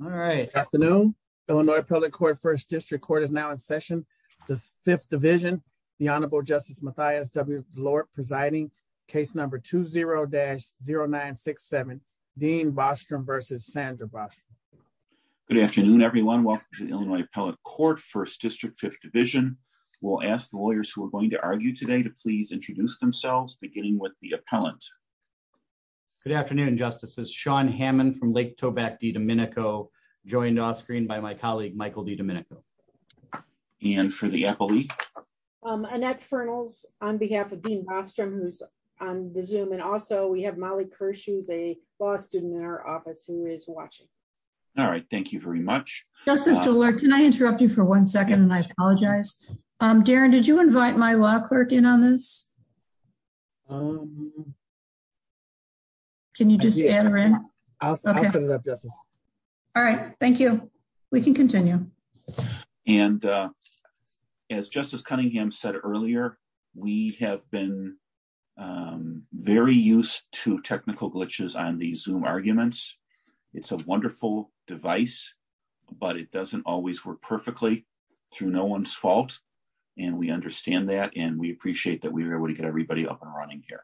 All right, afternoon. Illinois Appellate Court, First District Court is now in session. The Fifth Division, the Honorable Justice Mathias W. Lord presiding, case number 20-0967, Dean Bostrom v. Sandra Bostrom. Good afternoon, everyone. Welcome to the Illinois Appellate Court, First District, Fifth Division. We'll ask the lawyers who are going to argue today to please introduce themselves, beginning with the appellant. Good afternoon, Justices. Sean Hammond from Lake Tobacco D. Domenico, joined off screen by my colleague, Michael D. Domenico. And for the appellee? Annette Fernals on behalf of Dean Bostrom, who's on the Zoom, and also we have Molly Kirsch, who's a law student in our office, who is watching. All right, thank you very much. Justice DeLore, can I interrupt you for one second? I apologize. Darren, did you invite my law clerk in on this? Um, can you just, I'll set it up, Justice. All right, thank you. We can continue. And as Justice Cunningham said earlier, we have been very used to technical glitches on the Zoom arguments. It's a wonderful device, but it doesn't always work perfectly through no one's fault. And we understand that, and we appreciate that we were able to get everybody up and running here.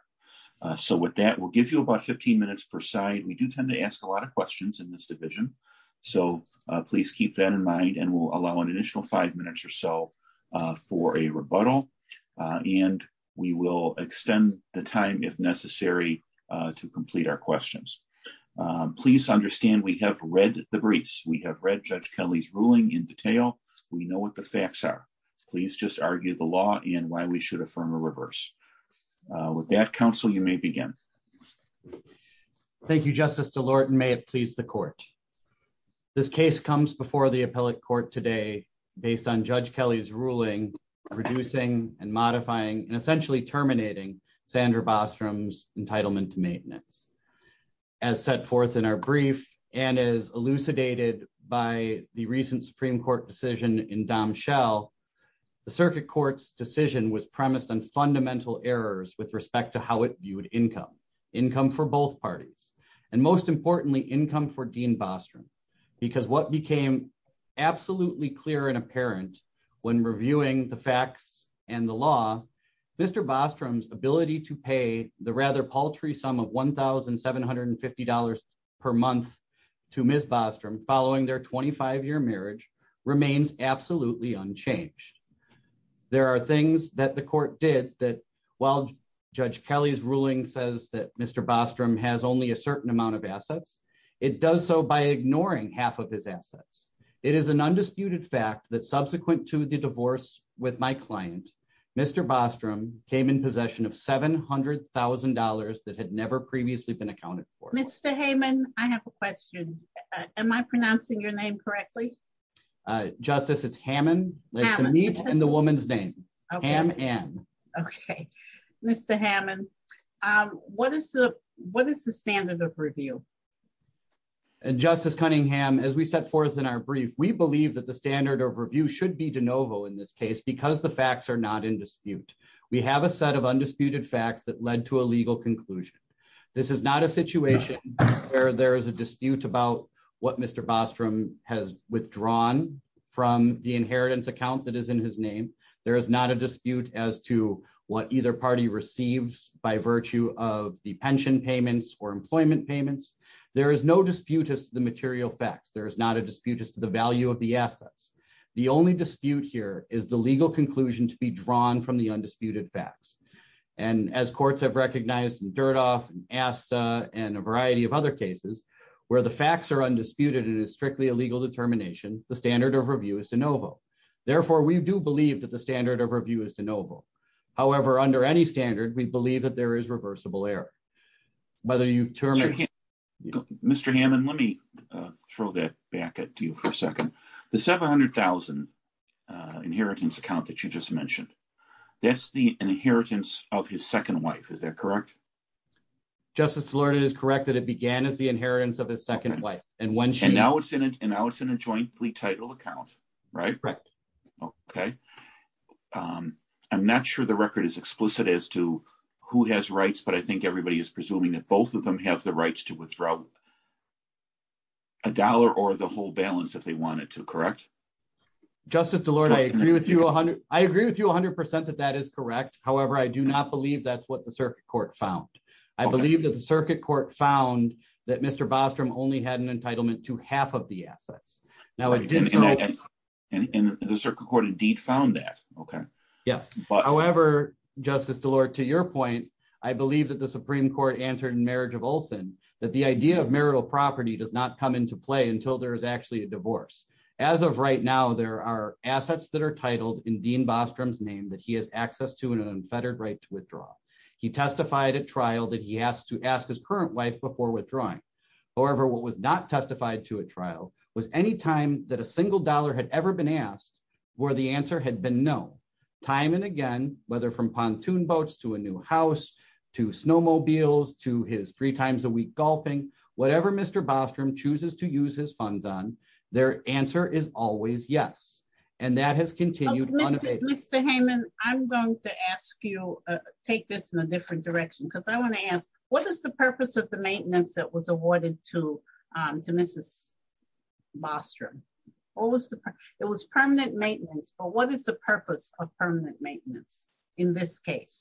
So with that, we'll give you about 15 minutes per side. We do tend to ask a lot of questions in this division, so please keep that in mind. And we'll allow an initial five minutes or so for a rebuttal, and we will extend the time if necessary to complete our questions. Please understand we have read the briefs. We have read Judge Kelly's ruling in detail. We know what the facts are. Please just argue the law and why we should affirm or reverse. With that, counsel, you may begin. Thank you, Justice DeLore, and may it please the court. This case comes before the appellate court today based on Judge Kelly's ruling reducing and modifying and essentially terminating Sandra Bostrom's entitlement to maintenance. As set forth in our brief and as elucidated by the recent Supreme Court decision in Dom Shell, the circuit court's decision was premised on fundamental errors with respect to how it viewed income, income for both parties, and most importantly, income for Dean Bostrom, because what became absolutely clear and apparent when reviewing the facts and the law, Mr. Bostrom's ability to pay the rather paltry sum of $1,750 per month to Ms. Bostrom following their 25-year marriage remains absolutely unchanged. There are things that the court did that while Judge Kelly's ruling says that Mr. Bostrom has only a certain amount of assets, it does so by ignoring half of his assets. It is an undisputed fact that subsequent to the divorce with my client, Mr. Bostrom came in possession of $700,000 that had never previously been accounted for. Mr. Hammond, I have a question. Am I pronouncing your name correctly? Justice, it's Hammond, like the meat and the woman's name, Hamm-Ann. Okay. Mr. Hammond, what is the standard of review? And Justice Cunningham, as we set forth in our brief, we believe that the standard of review should be de novo in this case because the facts are not in dispute. We have a set of undisputed facts that led to a legal conclusion. This is not a situation where there is a dispute about what Mr. Bostrom has withdrawn from the inheritance account that is in his name. There is not a dispute as to what either party receives by virtue of the pension payments or employment payments. There is no dispute as to the material facts. There is not a dispute as to the value of the assets. The only dispute here is the legal conclusion to be drawn from the undisputed facts. And as courts have recognized in Dirtoff, Asta, and a variety of other cases, where the facts are undisputed and it is strictly a legal determination, the standard of review is de novo. Therefore, we do believe that the standard of review is de novo. However, under any standard, we believe that there is reversible error. Mr. Hammond, let me throw that back at you the 700,000 inheritance account that you just mentioned. That is the inheritance of his second wife. Is that correct? Justice Lord, it is correct that it began as the inheritance of his second wife. And now it is in a jointly titled account, right? Correct. Okay. I am not sure the record is explicit as to who has rights, but I think everybody is presuming that both of them have rights to withdraw a dollar or the whole balance if they wanted to, correct? Justice Delord, I agree with you 100%. I agree with you 100% that that is correct. However, I do not believe that is what the circuit court found. I believe that the circuit court found that Mr. Bostrom only had an entitlement to half of the assets. And the circuit court indeed found that, okay. Yes. However, Justice Delord, to your point, I believe that the Supreme Court answered marriage of Olson, that the idea of marital property does not come into play until there is actually a divorce. As of right now, there are assets that are titled in Dean Bostrom's name that he has access to an unfettered right to withdraw. He testified at trial that he has to ask his current wife before withdrawing. However, what was not testified to at trial was any time that a single dollar had ever been asked where the answer had been no. Time and again, whether from three times a week golfing, whatever Mr. Bostrom chooses to use his funds on, their answer is always yes. And that has continued. Mr. Heyman, I'm going to ask you, take this in a different direction because I want to ask, what is the purpose of the maintenance that was awarded to Mrs. Bostrom? It was permanent maintenance, but what is the purpose of the maintenance that was awarded in this case?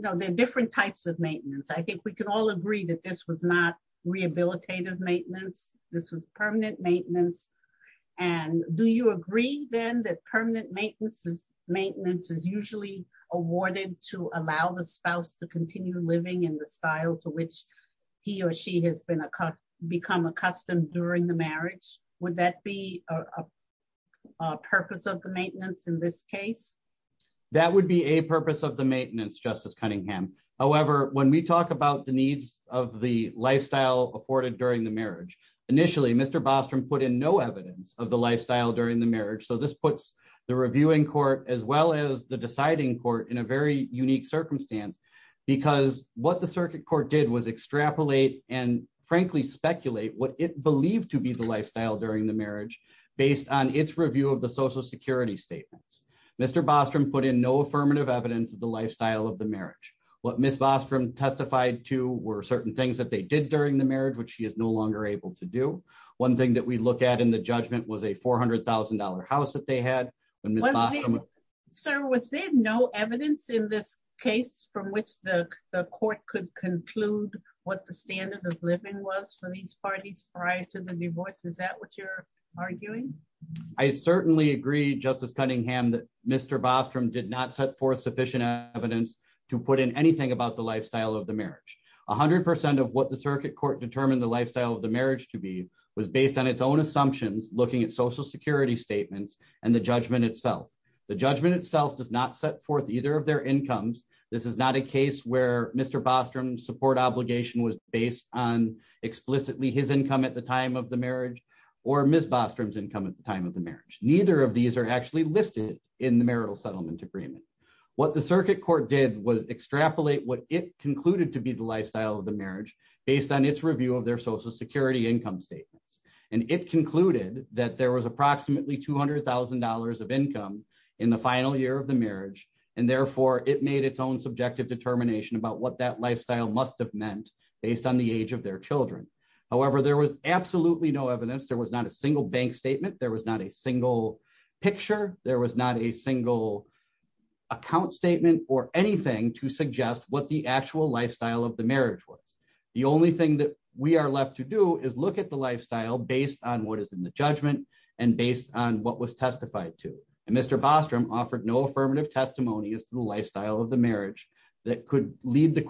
There are different types of maintenance. I think we can all agree that this was not rehabilitative maintenance. This was permanent maintenance. And do you agree then that permanent maintenance is usually awarded to allow the spouse to continue living in the style to which he or she has become accustomed during the marriage? Would that be a purpose of the maintenance in this case? That would be a purpose of the of the lifestyle afforded during the marriage. Initially, Mr. Bostrom put in no evidence of the lifestyle during the marriage. So this puts the reviewing court as well as the deciding court in a very unique circumstance because what the circuit court did was extrapolate and frankly, speculate what it believed to be the lifestyle during the marriage based on its review of the social security statements. Mr. Bostrom put in no affirmative evidence of the lifestyle of the were certain things that they did during the marriage, which she is no longer able to do. One thing that we look at in the judgment was a $400,000 house that they had. Sir, was there no evidence in this case from which the court could conclude what the standard of living was for these parties prior to the divorce? Is that what you're arguing? I certainly agree, Justice Cunningham, that Mr. Bostrom did not set forth sufficient evidence to put in anything about the lifestyle of the marriage. 100% of what the circuit court determined the lifestyle of the marriage to be was based on its own assumptions, looking at social security statements and the judgment itself. The judgment itself does not set forth either of their incomes. This is not a case where Mr. Bostrom's support obligation was based on explicitly his income at the time of the marriage or Ms. Bostrom's income at the time of the marriage. Neither of these are actually listed in the marital settlement agreement. What the circuit court did was extrapolate what it concluded to be the lifestyle of the marriage based on its review of their social security income statements. And it concluded that there was approximately $200,000 of income in the final year of the marriage. And therefore, it made its own subjective determination about what that lifestyle must have meant based on the age of their children. However, there was absolutely no evidence. There was not a single statement. There was not a single picture. There was not a single account statement or anything to suggest what the actual lifestyle of the marriage was. The only thing that we are left to do is look at the lifestyle based on what is in the judgment and based on what was testified to. And Mr. Bostrom offered no affirmative testimony as to the lifestyle of the marriage that could lead the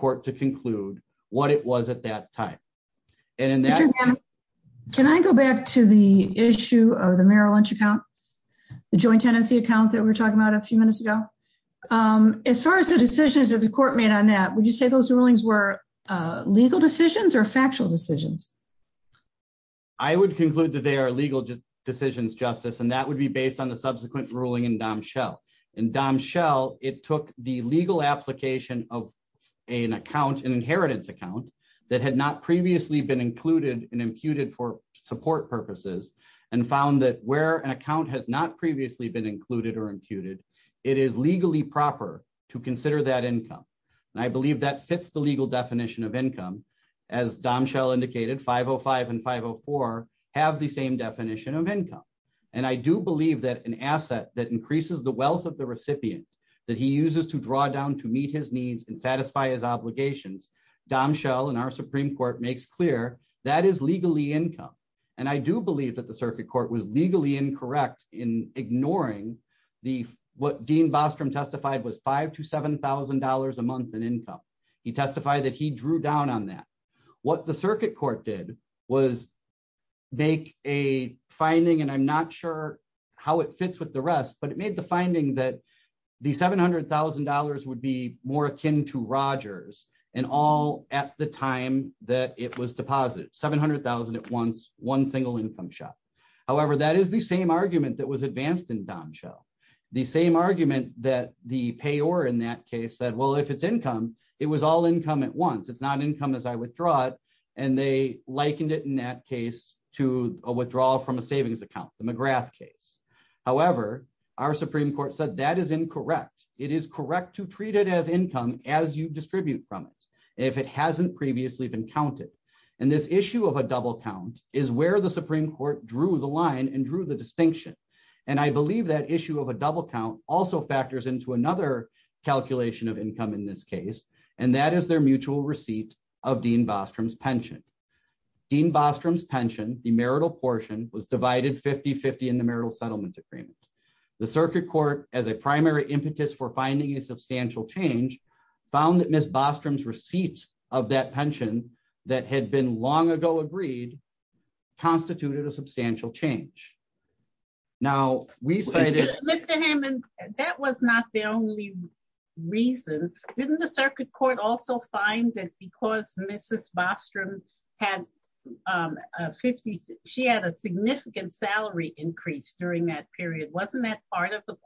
marital income. The joint tenancy account that we were talking about a few minutes ago. As far as the decisions that the court made on that, would you say those rulings were legal decisions or factual decisions? I would conclude that they are legal decisions, Justice, and that would be based on the subsequent ruling in Dom Shell. In Dom Shell, it took the legal application of an account, an inheritance account that had not previously been included and imputed for support purposes and found that where an account has not previously been included or imputed, it is legally proper to consider that income. And I believe that fits the legal definition of income. As Dom Shell indicated, 505 and 504 have the same definition of income. And I do believe that an asset that increases the wealth of the recipient that he uses to draw down to meet his income. And I do believe that the circuit court was legally incorrect in ignoring what Dean Bostrom testified was $5,000 to $7,000 a month in income. He testified that he drew down on that. What the circuit court did was make a finding, and I'm not sure how it fits with the rest, but it made the finding that the $700,000 would be more akin to Rogers and all at the time that it was deposited. $700,000 at once, one single income shot. However, that is the same argument that was advanced in Dom Shell. The same argument that the payor in that case said, well, if it's income, it was all income at once. It's not income as I withdraw it. And they likened it in that case to a withdrawal from a savings account, the McGrath case. However, our Supreme Court said that is incorrect. It is correct to treat it as income as you distribute from it. If it hasn't previously been counted. And this issue of a double count is where the Supreme Court drew the line and drew the distinction. And I believe that issue of a double count also factors into another calculation of income in this case, and that is their mutual receipt of Dean Bostrom's pension. Dean Bostrom's pension, the marital portion, was divided 50-50 in the marital settlement agreement. The circuit court, as a primary impetus for finding a substantial change, found that Ms. Bostrom's pension, that had been long ago agreed, constituted a substantial change. Now, we cited... Mr. Hammond, that was not the only reason. Didn't the circuit court also find that because Mrs. Bostrom had a significant salary increase during that period, wasn't that part of the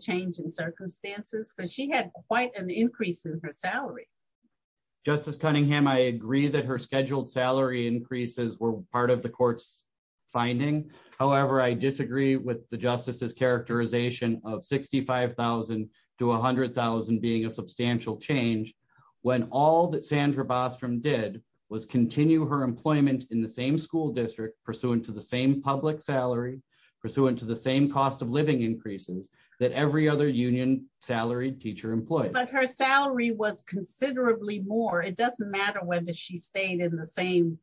change in circumstances? Because she had quite an increase in her salary. Justice Cunningham, I agree that her scheduled salary increases were part of the court's finding. However, I disagree with the justice's characterization of $65,000 to $100,000 being a substantial change, when all that Sandra Bostrom did was continue her employment in the same school district, pursuant to the same public salary, pursuant to the same cost of living increases, that every other union salaried teacher employed. But her salary was considerably more. It doesn't matter whether she stayed in the same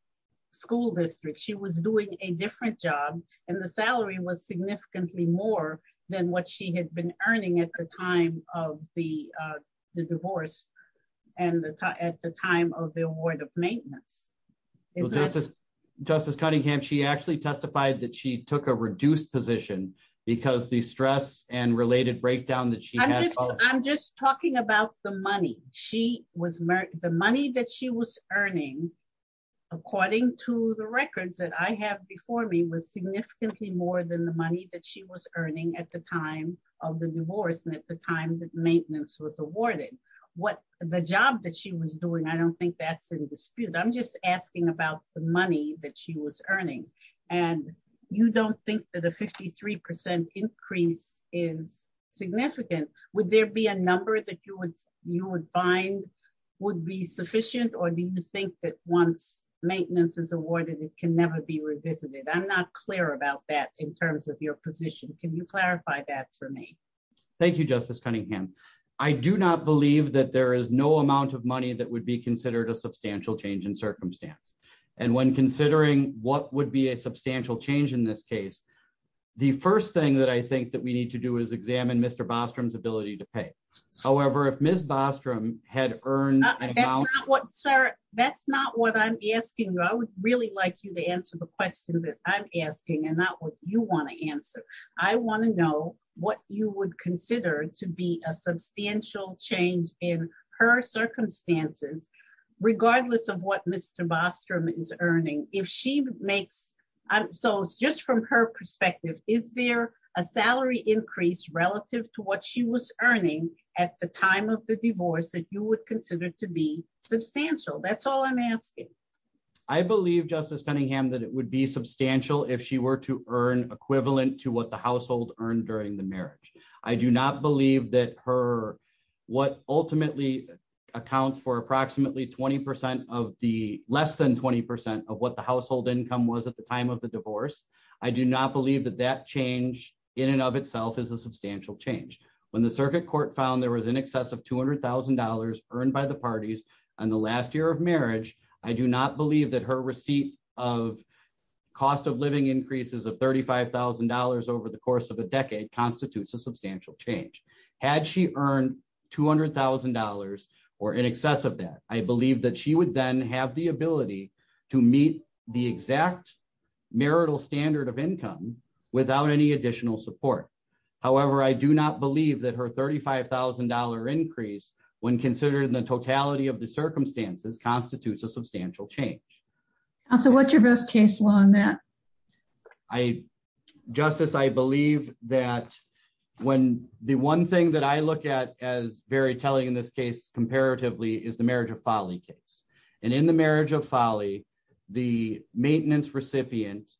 school district. She was doing a different job, and the salary was significantly more than what she had been earning at the time of the divorce and at the time of the award of maintenance. Justice Cunningham, she actually testified that she took a reduced position because the stress and related breakdown that she had... I'm just talking about the money. The money that she was earning, according to the records that I have before me, was significantly more than the money that she was earning at the time of the divorce and at the time that maintenance was awarded. The job that she was doing, I don't think that's in dispute. I'm just asking about the money that she was earning. And you don't think that a 53% increase is significant. Would there be a number that you would find would be sufficient? Or do you think that once maintenance is awarded, it can never be revisited? I'm not clear about that in terms of your position. Can you clarify that for me? Thank you, Justice Cunningham. I do not believe that there is no amount of money that would be considered a substantial change in circumstance. And when considering what would be a substantial change in this case, the first thing that I think that we need to do is examine Mr. Bostrom's ability to pay. However, if Ms. Bostrom had earned... That's not what I'm asking. I would really like you to answer the question that I'm asking and not what you want to answer. I want to know what you would consider to be a substantial change in her circumstances, regardless of what Mr. Bostrom is earning. If she makes... So just from her perspective, is there a salary increase relative to what she was earning at the time of the divorce that you would consider to be substantial? That's all I'm asking. I believe, Justice Cunningham, that it would be substantial if she were to earn equivalent to what the household earned during the marriage. I do not believe that what ultimately accounts for approximately less than 20% of what the household income was at the time of the divorce, I do not believe that that change in and of itself is a substantial change. When the circuit court found there was in excess of $200,000 earned by the parties on the last year of marriage, I do not believe that her receipt of cost of living increases of $35,000 over the course of a decade constitutes a substantial change. Had she earned $200,000 or in excess of that, I believe that she would then have the ability to meet the exact marital standard of income without any additional support. However, I do not believe that her $35,000 increase, when considered in the totality of the circumstances, constitutes a substantial change. What's your best case law on that? Justice, I believe that the one thing that I look at as very telling in this case comparatively is the marriage of folly case. In the marriage of folly, the maintenance recipient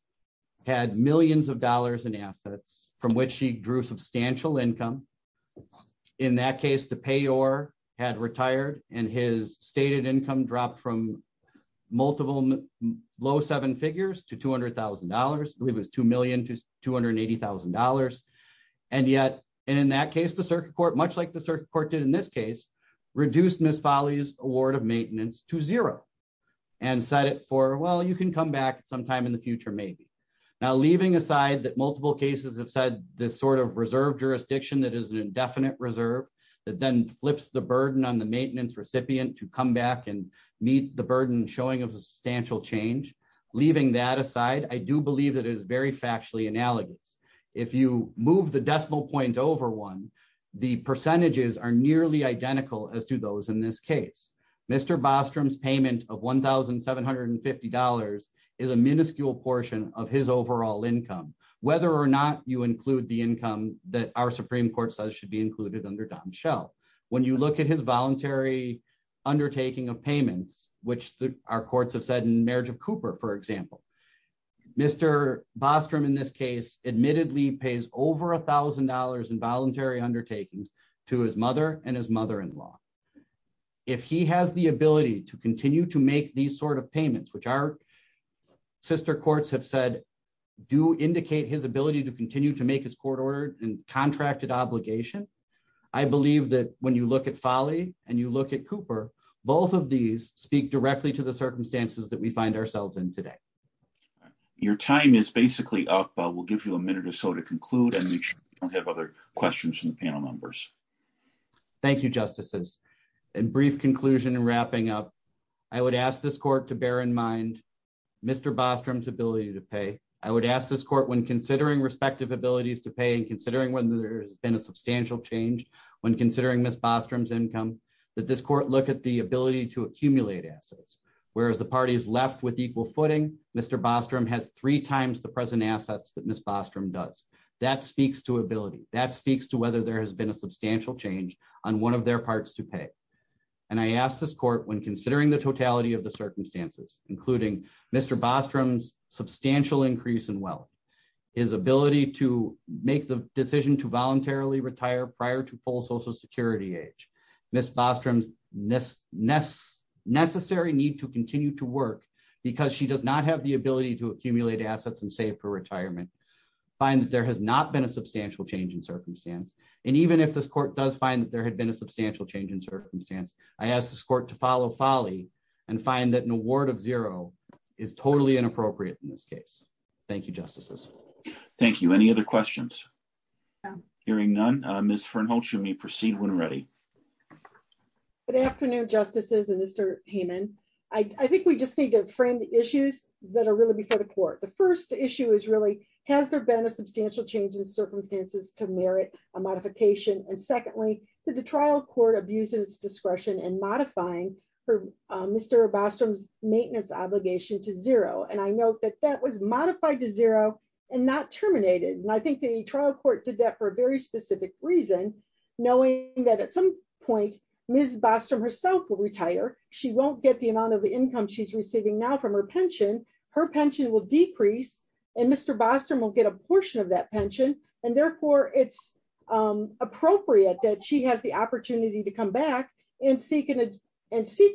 had millions of dollars in assets from which she drew substantial income. In that case, the payor had retired and his stated income dropped from multiple low seven figures to $200,000. I believe it was $2,280,000. And yet, in that case, the circuit court, much like the circuit court did in this case, reduced Ms. Folly's award of maintenance to zero and set it for, well, you can come back sometime in the future, maybe. Now, leaving aside that multiple cases have said this sort of reserve jurisdiction that is an indefinite reserve that then flips the burden on the maintenance recipient to come back and meet the burden showing a substantial change, leaving that aside, I do believe that it is very factually analogous. If you move the decimal point over one, the percentages are nearly identical as to those in this case. Mr. Bostrom's payment of $1,750 is a minuscule portion of his overall income, whether or not you include the income that our Supreme Court says should be included under Dom Shell. When you look at his voluntary undertaking of payments, which our courts have said in marriage of Cooper, for example, Mr. Bostrom, in this case, admittedly pays over $1,000 in voluntary undertakings to his mother and his mother-in-law. If he has the ability to continue to make these sort of payments, which our sister courts have said do indicate his ability to continue to make his court order and contracted obligation, I believe that when you look at Folly and you look at Cooper, both of these speak directly to the circumstances that we find ourselves in today. Your time is basically up. We'll give you a minute or so to conclude and make sure we don't have other questions from the panel members. Thank you, Justices. In brief conclusion and wrapping up, I would ask this court to bear in mind Mr. Bostrom's ability to pay. I would ask this court when considering respective abilities to pay and considering whether there's been a substantial change when considering Ms. Bostrom's income, that this court look at the ability to accumulate assets. Whereas the party is left with equal footing, Mr. Bostrom has three times the that speaks to whether there has been a substantial change on one of their parts to pay. And I ask this court when considering the totality of the circumstances, including Mr. Bostrom's substantial increase in wealth, his ability to make the decision to voluntarily retire prior to full social security age, Ms. Bostrom's necessary need to continue to work because she does not have the ability to accumulate assets and save for retirement, find that there has not been a substantial change in circumstance. And even if this court does find that there had been a substantial change in circumstance, I ask this court to follow folly and find that an award of zero is totally inappropriate in this case. Thank you, Justices. Thank you. Any other questions? Hearing none, Ms. Fernholz, you may proceed when ready. Good afternoon, Justices and Mr. Heyman. I think we just need to frame the issues that are really before the court. The first issue is really, has there been a substantial change in circumstances to merit a modification? And secondly, did the trial court abuse its discretion in modifying for Mr. Bostrom's maintenance obligation to zero? And I note that that was modified to zero and not terminated. And I think the trial court did that for a very specific reason, knowing that at some point, Ms. Bostrom herself will retire. She won't get the amount of the decrease and Mr. Bostrom will get a portion of that pension. And therefore it's appropriate that she has the opportunity to come back and seek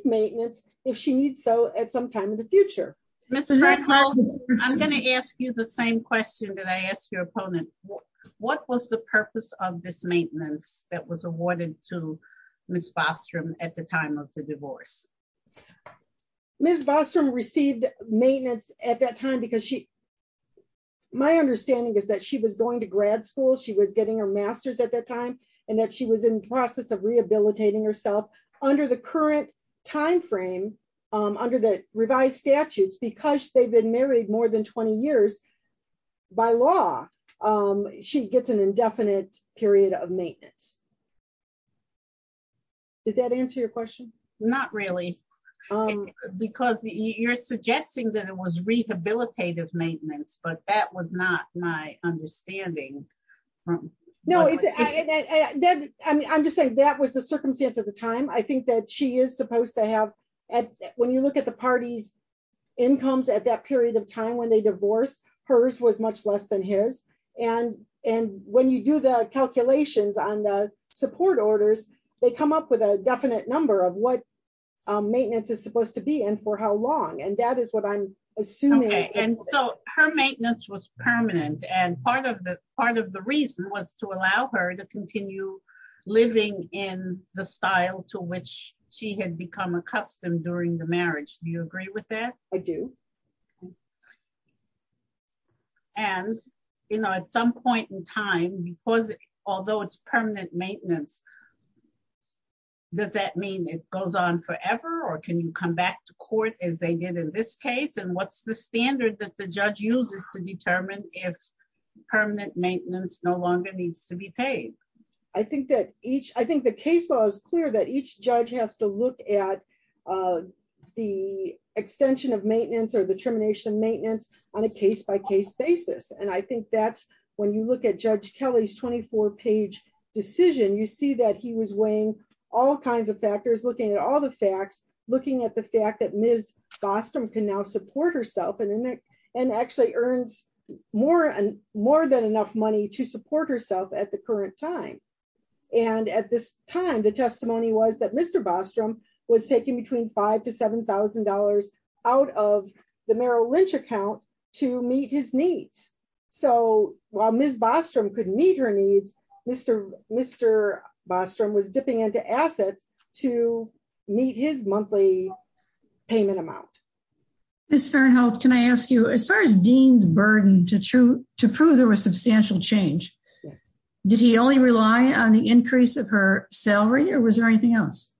maintenance if she needs so at some time in the future. Ms. Fernholz, I'm going to ask you the same question that I asked your opponent. What was the purpose of this maintenance that was awarded to Ms. Bostrom at the time of the divorce? Ms. Bostrom received maintenance at that time because she, my understanding is that she was going to grad school. She was getting her master's at that time and that she was in process of rehabilitating herself under the current timeframe, under the revised statutes, because they've been married more than 20 years by law. She gets an indefinite period of maintenance. Did that answer your question? Not really. Because you're suggesting that it was rehabilitative maintenance, but that was not my understanding. No, I'm just saying that was the circumstance at the time. I think that she is supposed to have, when you look at the party's incomes at that period of time, when they divorced, hers was much less than his. And when you do the calculations on the support orders, they come up with a definite number of what maintenance is supposed to be and for how long. And that is what I'm assuming. Okay. And so her maintenance was permanent. And part of the reason was to allow her to continue living in the style to which she had become accustomed during the marriage. Do you agree with that? I do. Okay. And at some point in time, because although it's permanent maintenance, does that mean it goes on forever or can you come back to court as they did in this case? And what's the standard that the judge uses to determine if permanent maintenance no longer needs to be paid? I think the case law is clear that each judge has to look at the extension of the termination of maintenance on a case-by-case basis. And I think that's when you look at judge Kelly's 24 page decision, you see that he was weighing all kinds of factors, looking at all the facts, looking at the fact that Ms. Bostrom can now support herself and actually earns more than enough money to support herself at the current time. And at this time, the testimony was that Mr. Bostrom was taking between five to $7,000 out of the Merrill Lynch account to meet his needs. So while Ms. Bostrom could meet her needs, Mr. Bostrom was dipping into assets to meet his monthly payment amount. Ms. Farenthold, can I ask you, as far as Dean's burden to prove there was substantial change, did he only rely on the increase of her salary or was there anything else?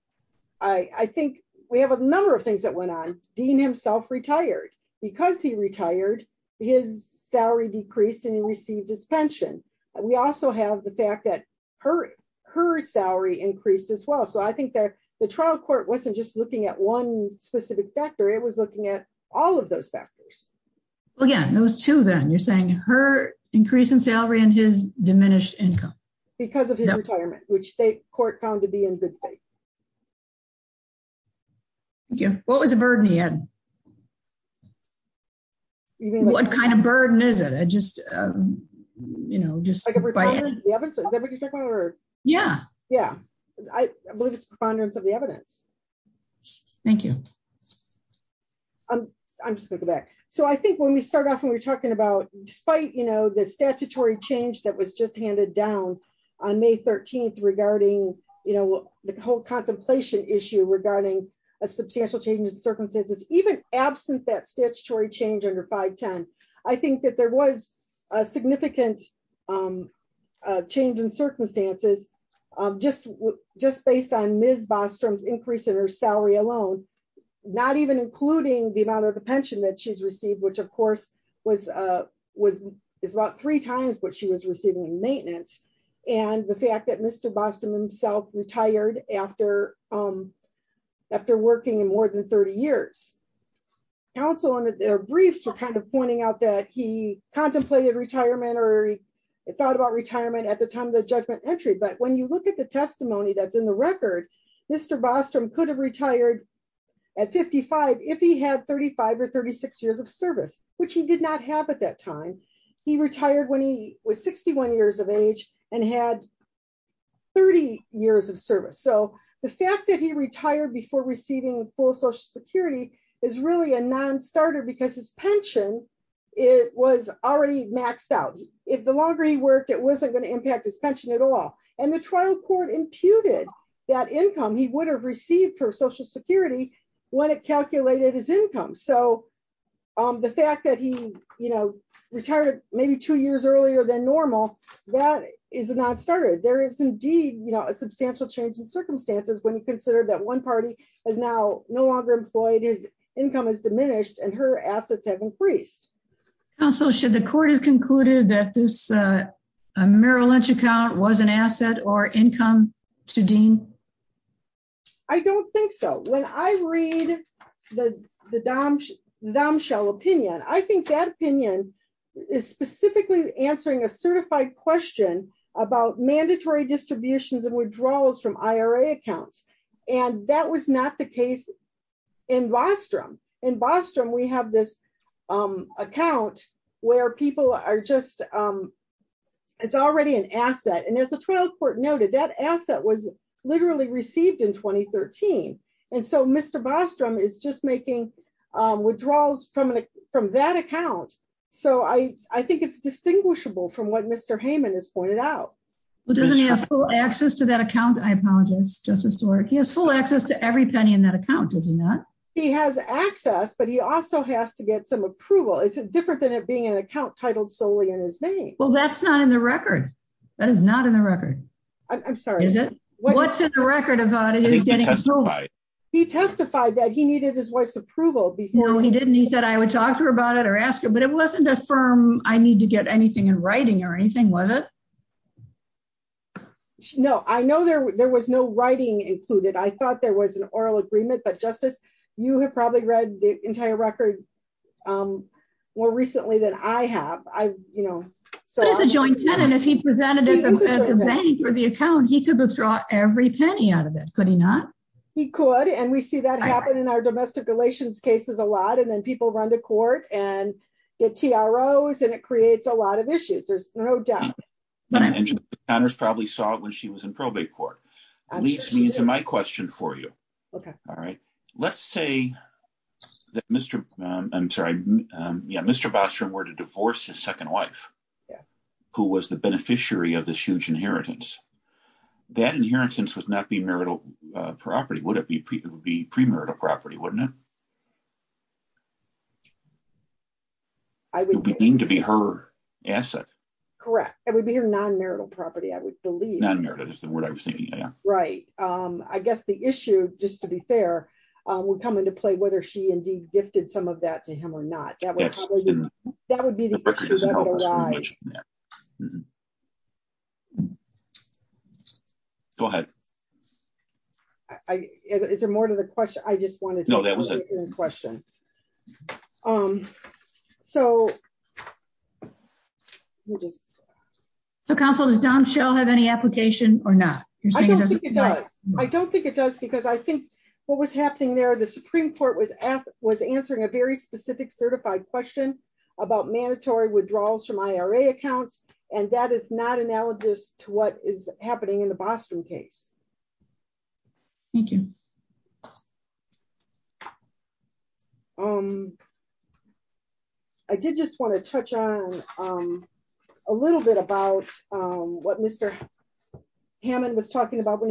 I think we have a number of things that went on. Dean himself retired. Because he retired, his salary decreased and he received his pension. We also have the fact that her salary increased as well. So I think that the trial court wasn't just looking at one specific factor, it was looking at all of those factors. Well, yeah, those two then. You're saying her increase in salary and his diminished income. Because of his retirement, which the court found to be in good faith. What was the burden he had? What kind of burden is it? I'm just going to go back. So I think when we started off and we were talking about, despite the statutory change that was just handed down on May 13th regarding the whole contemplation issue regarding a substantial change in circumstances, even absent that statutory change under 510, I think that there was a significant change in circumstances just based on Ms. Bostrom's increase in her salary alone. Not even including the amount of the pension that she's received, which of course is about three times what she was receiving in maintenance. And the fact that Mr. Bostrom himself retired after working in more than 30 years. Counsel under their briefs were kind of pointing out that he contemplated retirement or thought about retirement at the time of the judgment entry. But when you look at the testimony that's in the record, Mr. Bostrom could have retired at 55 if he had 35 or 36 years of service, which he did not have at that time. He retired when he was 61 years of age and had 30 years of service. So the fact that he retired before receiving full social security is really a non-starter because his pension, it was already maxed out. If the longer he worked, it wasn't going to impact his pension at all. And the trial court imputed that income he would have received for social security when it calculated his income. So the fact that he retired maybe two years earlier than normal, that is a non-starter. There is indeed a substantial change in circumstances when you consider that one party is now no longer employed, his income has diminished and her assets have increased. Counsel, should the court have concluded that this Merrill Lynch account was an asset or income to Dean? I don't think so. When I read the Domshell opinion, I think that a certified question about mandatory distributions and withdrawals from IRA accounts. And that was not the case in Bostrom. In Bostrom, we have this account where people are just, it's already an asset. And as the trial court noted, that asset was literally received in 2013. And so Mr. Bostrom is just making withdrawals from that account. So I think it's distinguishable from what Mr. Heyman has pointed out. But doesn't he have full access to that account? I apologize, Justice Stewart. He has full access to every penny in that account, does he not? He has access, but he also has to get some approval. Is it different than it being an account titled solely in his name? Well, that's not in the record. That is not in the record. I'm sorry. Is it? What's in the record about his getting approval? He testified that he needed his wife's approval before. No, he didn't. He said I would talk to her about it or ask her, but it wasn't a firm I need to get anything in writing or anything, was it? No, I know there was no writing included. I thought there was an oral agreement, but Justice, you have probably read the entire record more recently than I have. What is a joint tenant if he presented at the bank or the account, he could withdraw every penny out of it, could he not? He could. And we see that happen in our domestic relations cases a lot. And then people run to court and get TROs and it creates a lot of issues. There's no doubt. And she probably saw it when she was in probate court. Leads me to my question for you. OK. All right. Let's say that Mr. I'm sorry, Mr. Bostrom were to divorce his that inheritance would not be marital property, would it be? It would be premarital property, wouldn't it? I would mean to be her asset, correct? It would be her non-marital property, I would believe. Non-marital is the word I was thinking. Right. I guess the issue, just to be fair, would come into play whether she indeed gifted some of that to him or not. That would be the question that would arise. Go ahead. Is there more to the question? I just wanted to know that was a question. So. So, counsel, does Dom Shell have any application or not? I don't think it does. I don't think it does, because I think what was happening there, the Supreme Court was asked, was answering a very specific certified question about mandatory withdrawals from IRA accounts. And that is not analogous to what is happening in the Boston case. Thank you. I did just want to touch on a little bit about what Mr. Hammond was talking about when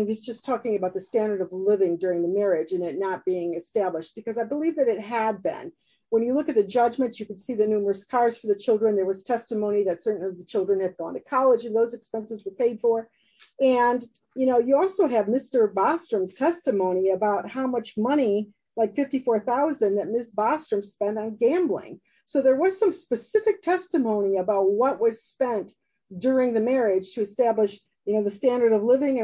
not being established, because I believe that it had been. When you look at the judgments, you can see the numerous cars for the children. There was testimony that certain of the children had gone to college and those expenses were paid for. And, you know, you also have Mr. Bostrom's testimony about how much money, like $54,000 that Ms. Bostrom spent on gambling. So there was some specific testimony about what was spent during the marriage to establish, you know, the standard of what Mr.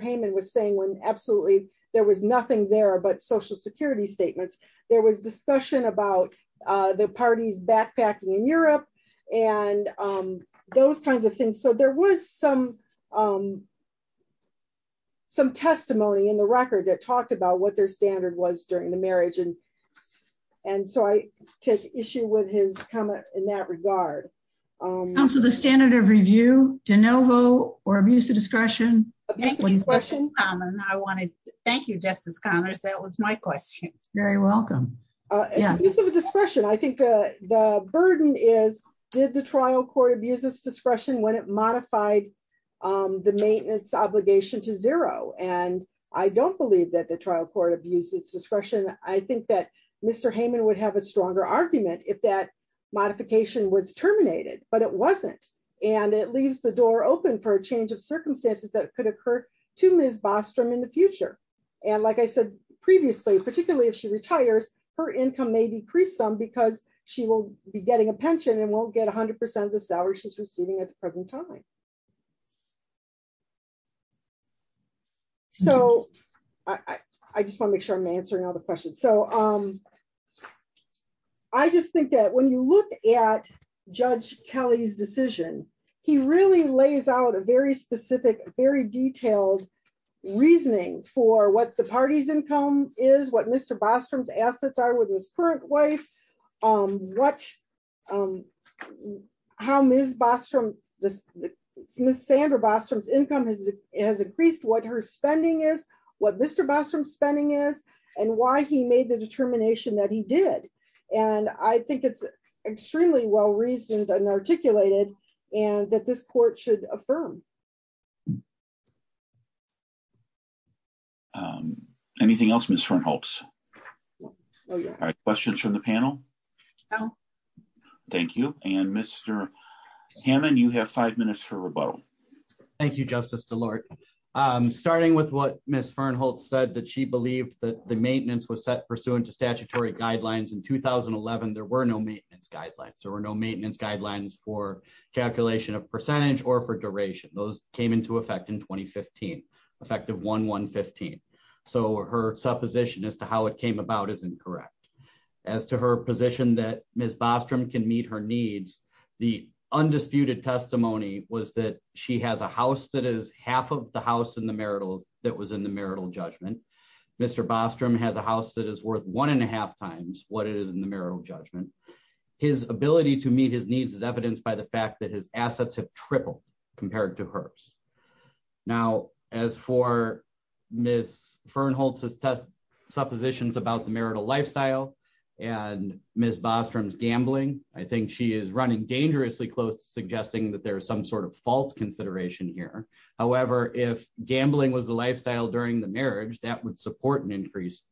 Hammond was saying when absolutely there was nothing there but social security statements. There was discussion about the parties backpacking in Europe and those kinds of things. So there was some testimony in the record that talked about what their standard was during the marriage. And so I take issue with his comment in that regard. Counsel, the standard of review, de novo, or abuse of discretion? Thank you, Justice Connors. That was my question. Very welcome. I think the burden is, did the trial court abuse its discretion when it modified the maintenance obligation to zero? And I don't believe that the trial court abused its discretion. I think that Mr. Hammond would have a stronger argument if that modification was terminated, but it wasn't. And it leaves the door open for a change of circumstances that could occur to Ms. Bostrom in the future. And like I said previously, particularly if she retires, her income may decrease some because she will be getting a pension and won't get 100% of the salary she's receiving at the present time. So I just want to make sure I'm answering all the questions. He really lays out a very specific, very detailed reasoning for what the party's income is, what Mr. Bostrom's assets are with his current wife, how Ms. Bostrom, Ms. Sandra Bostrom's income has increased, what her spending is, what Mr. Bostrom's spending is, and why he made the determination that he did. And I think it's extremely well-reasoned and articulated and that this court should affirm. Anything else, Ms. Fernholtz? Questions from the panel? No. Thank you. And Mr. Hammond, you have five minutes for rebuttal. Thank you, Justice DeLorte. Starting with what Ms. Fernholtz said, that she believed that the maintenance was set pursuant to statutory guidelines. In 2011, there were no maintenance guidelines. There were no maintenance guidelines for calculation of percentage or for duration. Those came into effect in 2015, effective 1-1-15. So her supposition as to how it came about is incorrect. As to her position that Ms. Bostrom can meet her needs, the undisputed testimony was that she has a house that is half of the house in the marital that was in the marital judgment. Mr. Bostrom has a house that is worth one and a half times what it is in the marital judgment. His ability to meet his needs is evidenced by the fact that his assets have tripled compared to hers. Now, as for Ms. Fernholtz's suppositions about the marital lifestyle and Ms. Bostrom's gambling, I think she is running dangerously close to suggesting that there's some sort of fault consideration here. However, if gambling was the lifestyle during the marriage, that would support an increased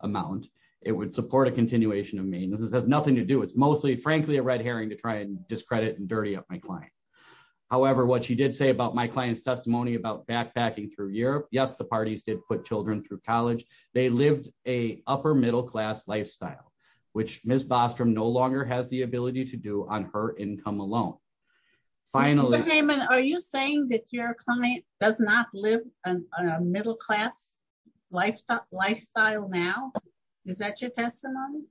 amount. It would support a continuation of maintenance. This has nothing to do, it's mostly, frankly, a red herring to try and discredit and dirty up my client. However, what she did say about my client's testimony about backpacking through Europe, yes, the parties did put children through college. They lived a upper-middle-class lifestyle, which Ms. Bostrom no longer has the ability to do on her income alone. Finally- Mr. Heyman, are you saying that your client does not live a middle-class lifestyle now? Is that your testimony?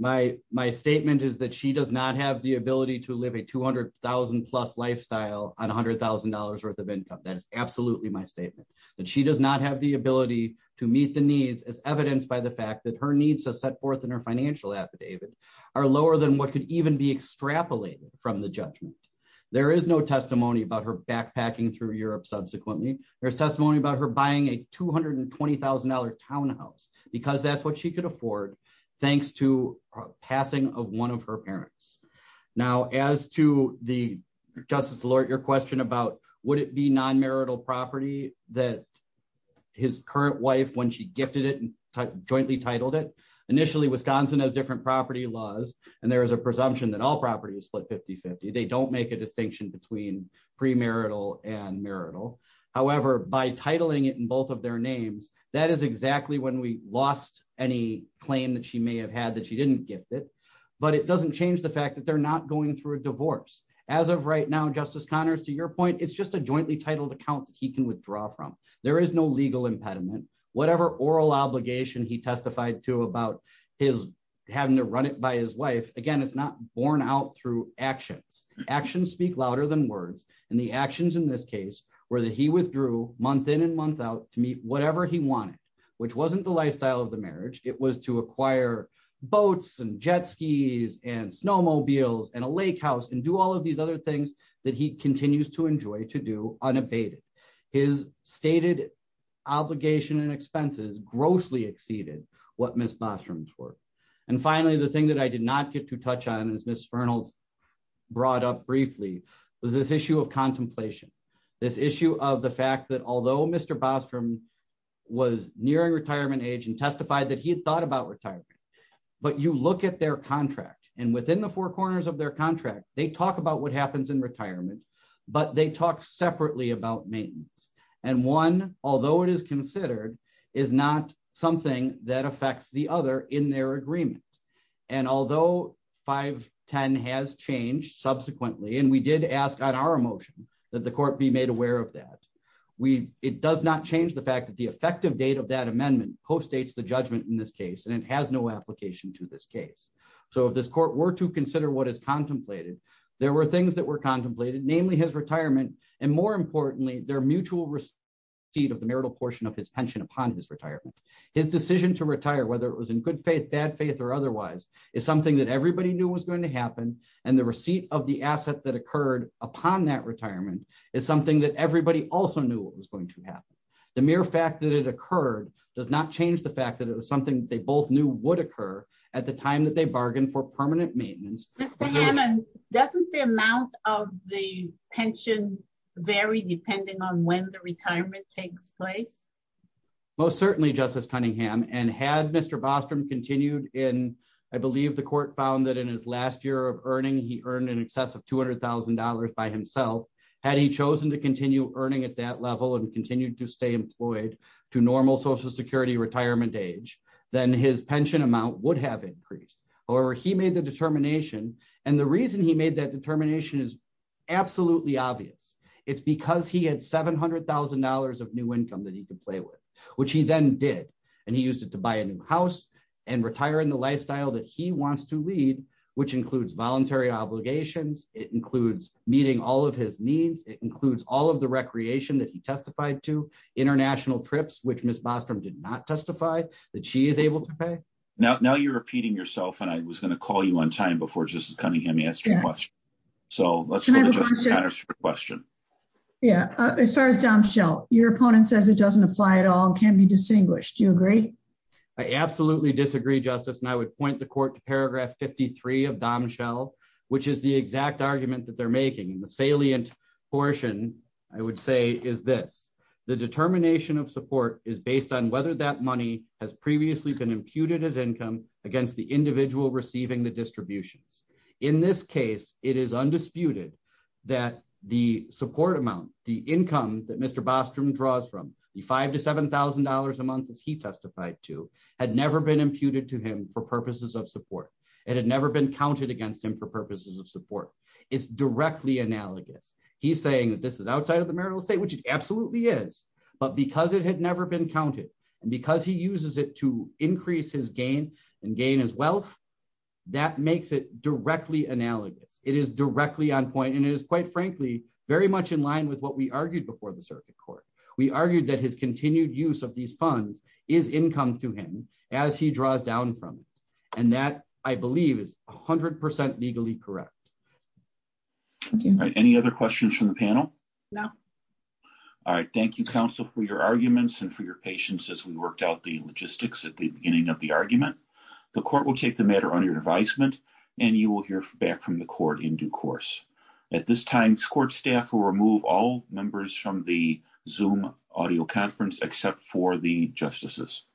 My statement is that she does not have the ability to live a $200,000-plus lifestyle on $100,000 worth of income. That is absolutely my statement, that she does not have the ability to meet the needs as evidenced by the fact that her needs are set forth in her financial affidavit are lower than what could even be extrapolated from the judgment. There is no testimony about her backpacking through Europe subsequently. There's testimony about her buying a $220,000 townhouse because that's what she could afford thanks to a passing of one of her parents. Now, as to the, Justice Lort, your question about would it be non-marital property that his current wife, when she gifted it and jointly titled it, initially, Wisconsin has different property laws, and there is a presumption that all property is split 50-50. They don't make a distinction between premarital and marital. However, by titling it in both of their names, that is exactly when we lost any claim that she may have had that she didn't gift it, but it doesn't change the fact that they're not going through a divorce. As of right now, Justice Connors, to your point, it's just a jointly titled account that he can withdraw from. There is no legal impediment. Whatever oral obligation he testified to about having to run it by his wife, again, it's not borne out through actions. Actions speak louder than words, and the actions in this case were that he withdrew month in and month out to meet whatever he wanted, which wasn't the lifestyle of the marriage. It was to acquire boats and jet skis and snowmobiles and a lake house and do all of these other things that he continues to obligation and expenses grossly exceeded what Ms. Bostrom's were. Finally, the thing that I did not get to touch on, as Ms. Fernalds brought up briefly, was this issue of contemplation, this issue of the fact that although Mr. Bostrom was nearing retirement age and testified that he had thought about retirement, but you look at their contract, and within the four corners of their contract, they talk about what happens in retirement, but they talk separately about maintenance, and one, although it is considered, is not something that affects the other in their agreement, and although 510 has changed subsequently, and we did ask on our motion that the court be made aware of that, it does not change the fact that the effective date of that amendment co-states the judgment in this case, and it has no application to this case, so if this court were to consider what is contemplated, there were things that were mutual receipt of the marital portion of his pension upon his retirement. His decision to retire, whether it was in good faith, bad faith, or otherwise, is something that everybody knew was going to happen, and the receipt of the asset that occurred upon that retirement is something that everybody also knew what was going to happen. The mere fact that it occurred does not change the fact that it was something they both knew would occur at the time that they bargained for permanent maintenance. Mr. Hammond, doesn't the amount of the pension vary depending on when the retirement takes place? Most certainly, Justice Cunningham, and had Mr. Bostrom continued in, I believe the court found that in his last year of earning, he earned in excess of $200,000 by himself. Had he chosen to continue earning at that level and continued to stay employed to normal social security retirement age, then his pension amount would have increased. However, he made the determination, and the reason he made that determination is absolutely obvious. It's because he had $700,000 of new income that he could play with, which he then did, and he used it to buy a new house and retire in the lifestyle that he wants to lead, which includes voluntary obligations. It includes meeting all of his needs. It includes all of the recreation that he testified to, international trips, which Ms. Bostrom did not testify that she is able to pay. Now you're repeating yourself, and I was going to call you on time before Justice Cunningham asked you a question. So let's go to Justice Conner's question. Yeah, as far as Dom Shell, your opponent says it doesn't apply at all and can't be distinguished. Do you agree? I absolutely disagree, Justice, and I would point the court to paragraph 53 of Dom Shell, which is the exact argument that they're making. The salient portion, I would say, is this. The determination of support is based on whether that receiving the distributions. In this case, it is undisputed that the support amount, the income that Mr. Bostrom draws from, the $5,000 to $7,000 a month as he testified to, had never been imputed to him for purposes of support. It had never been counted against him for purposes of support. It's directly analogous. He's saying that this is outside of the marital estate, which it absolutely is, but because it had never been counted and because he uses it to increase his gain and gain wealth, that makes it directly analogous. It is directly on point and it is, quite frankly, very much in line with what we argued before the circuit court. We argued that his continued use of these funds is income to him as he draws down from it, and that, I believe, is 100% legally correct. Thank you. Any other questions from the panel? No. All right. Thank you, counsel, for your arguments and for your patience as we worked out the logistics at the beginning of the session. The court will take the matter under advisement and you will hear back from the court in due course. At this time, court staff will remove all members from the Zoom audio conference except for the justices.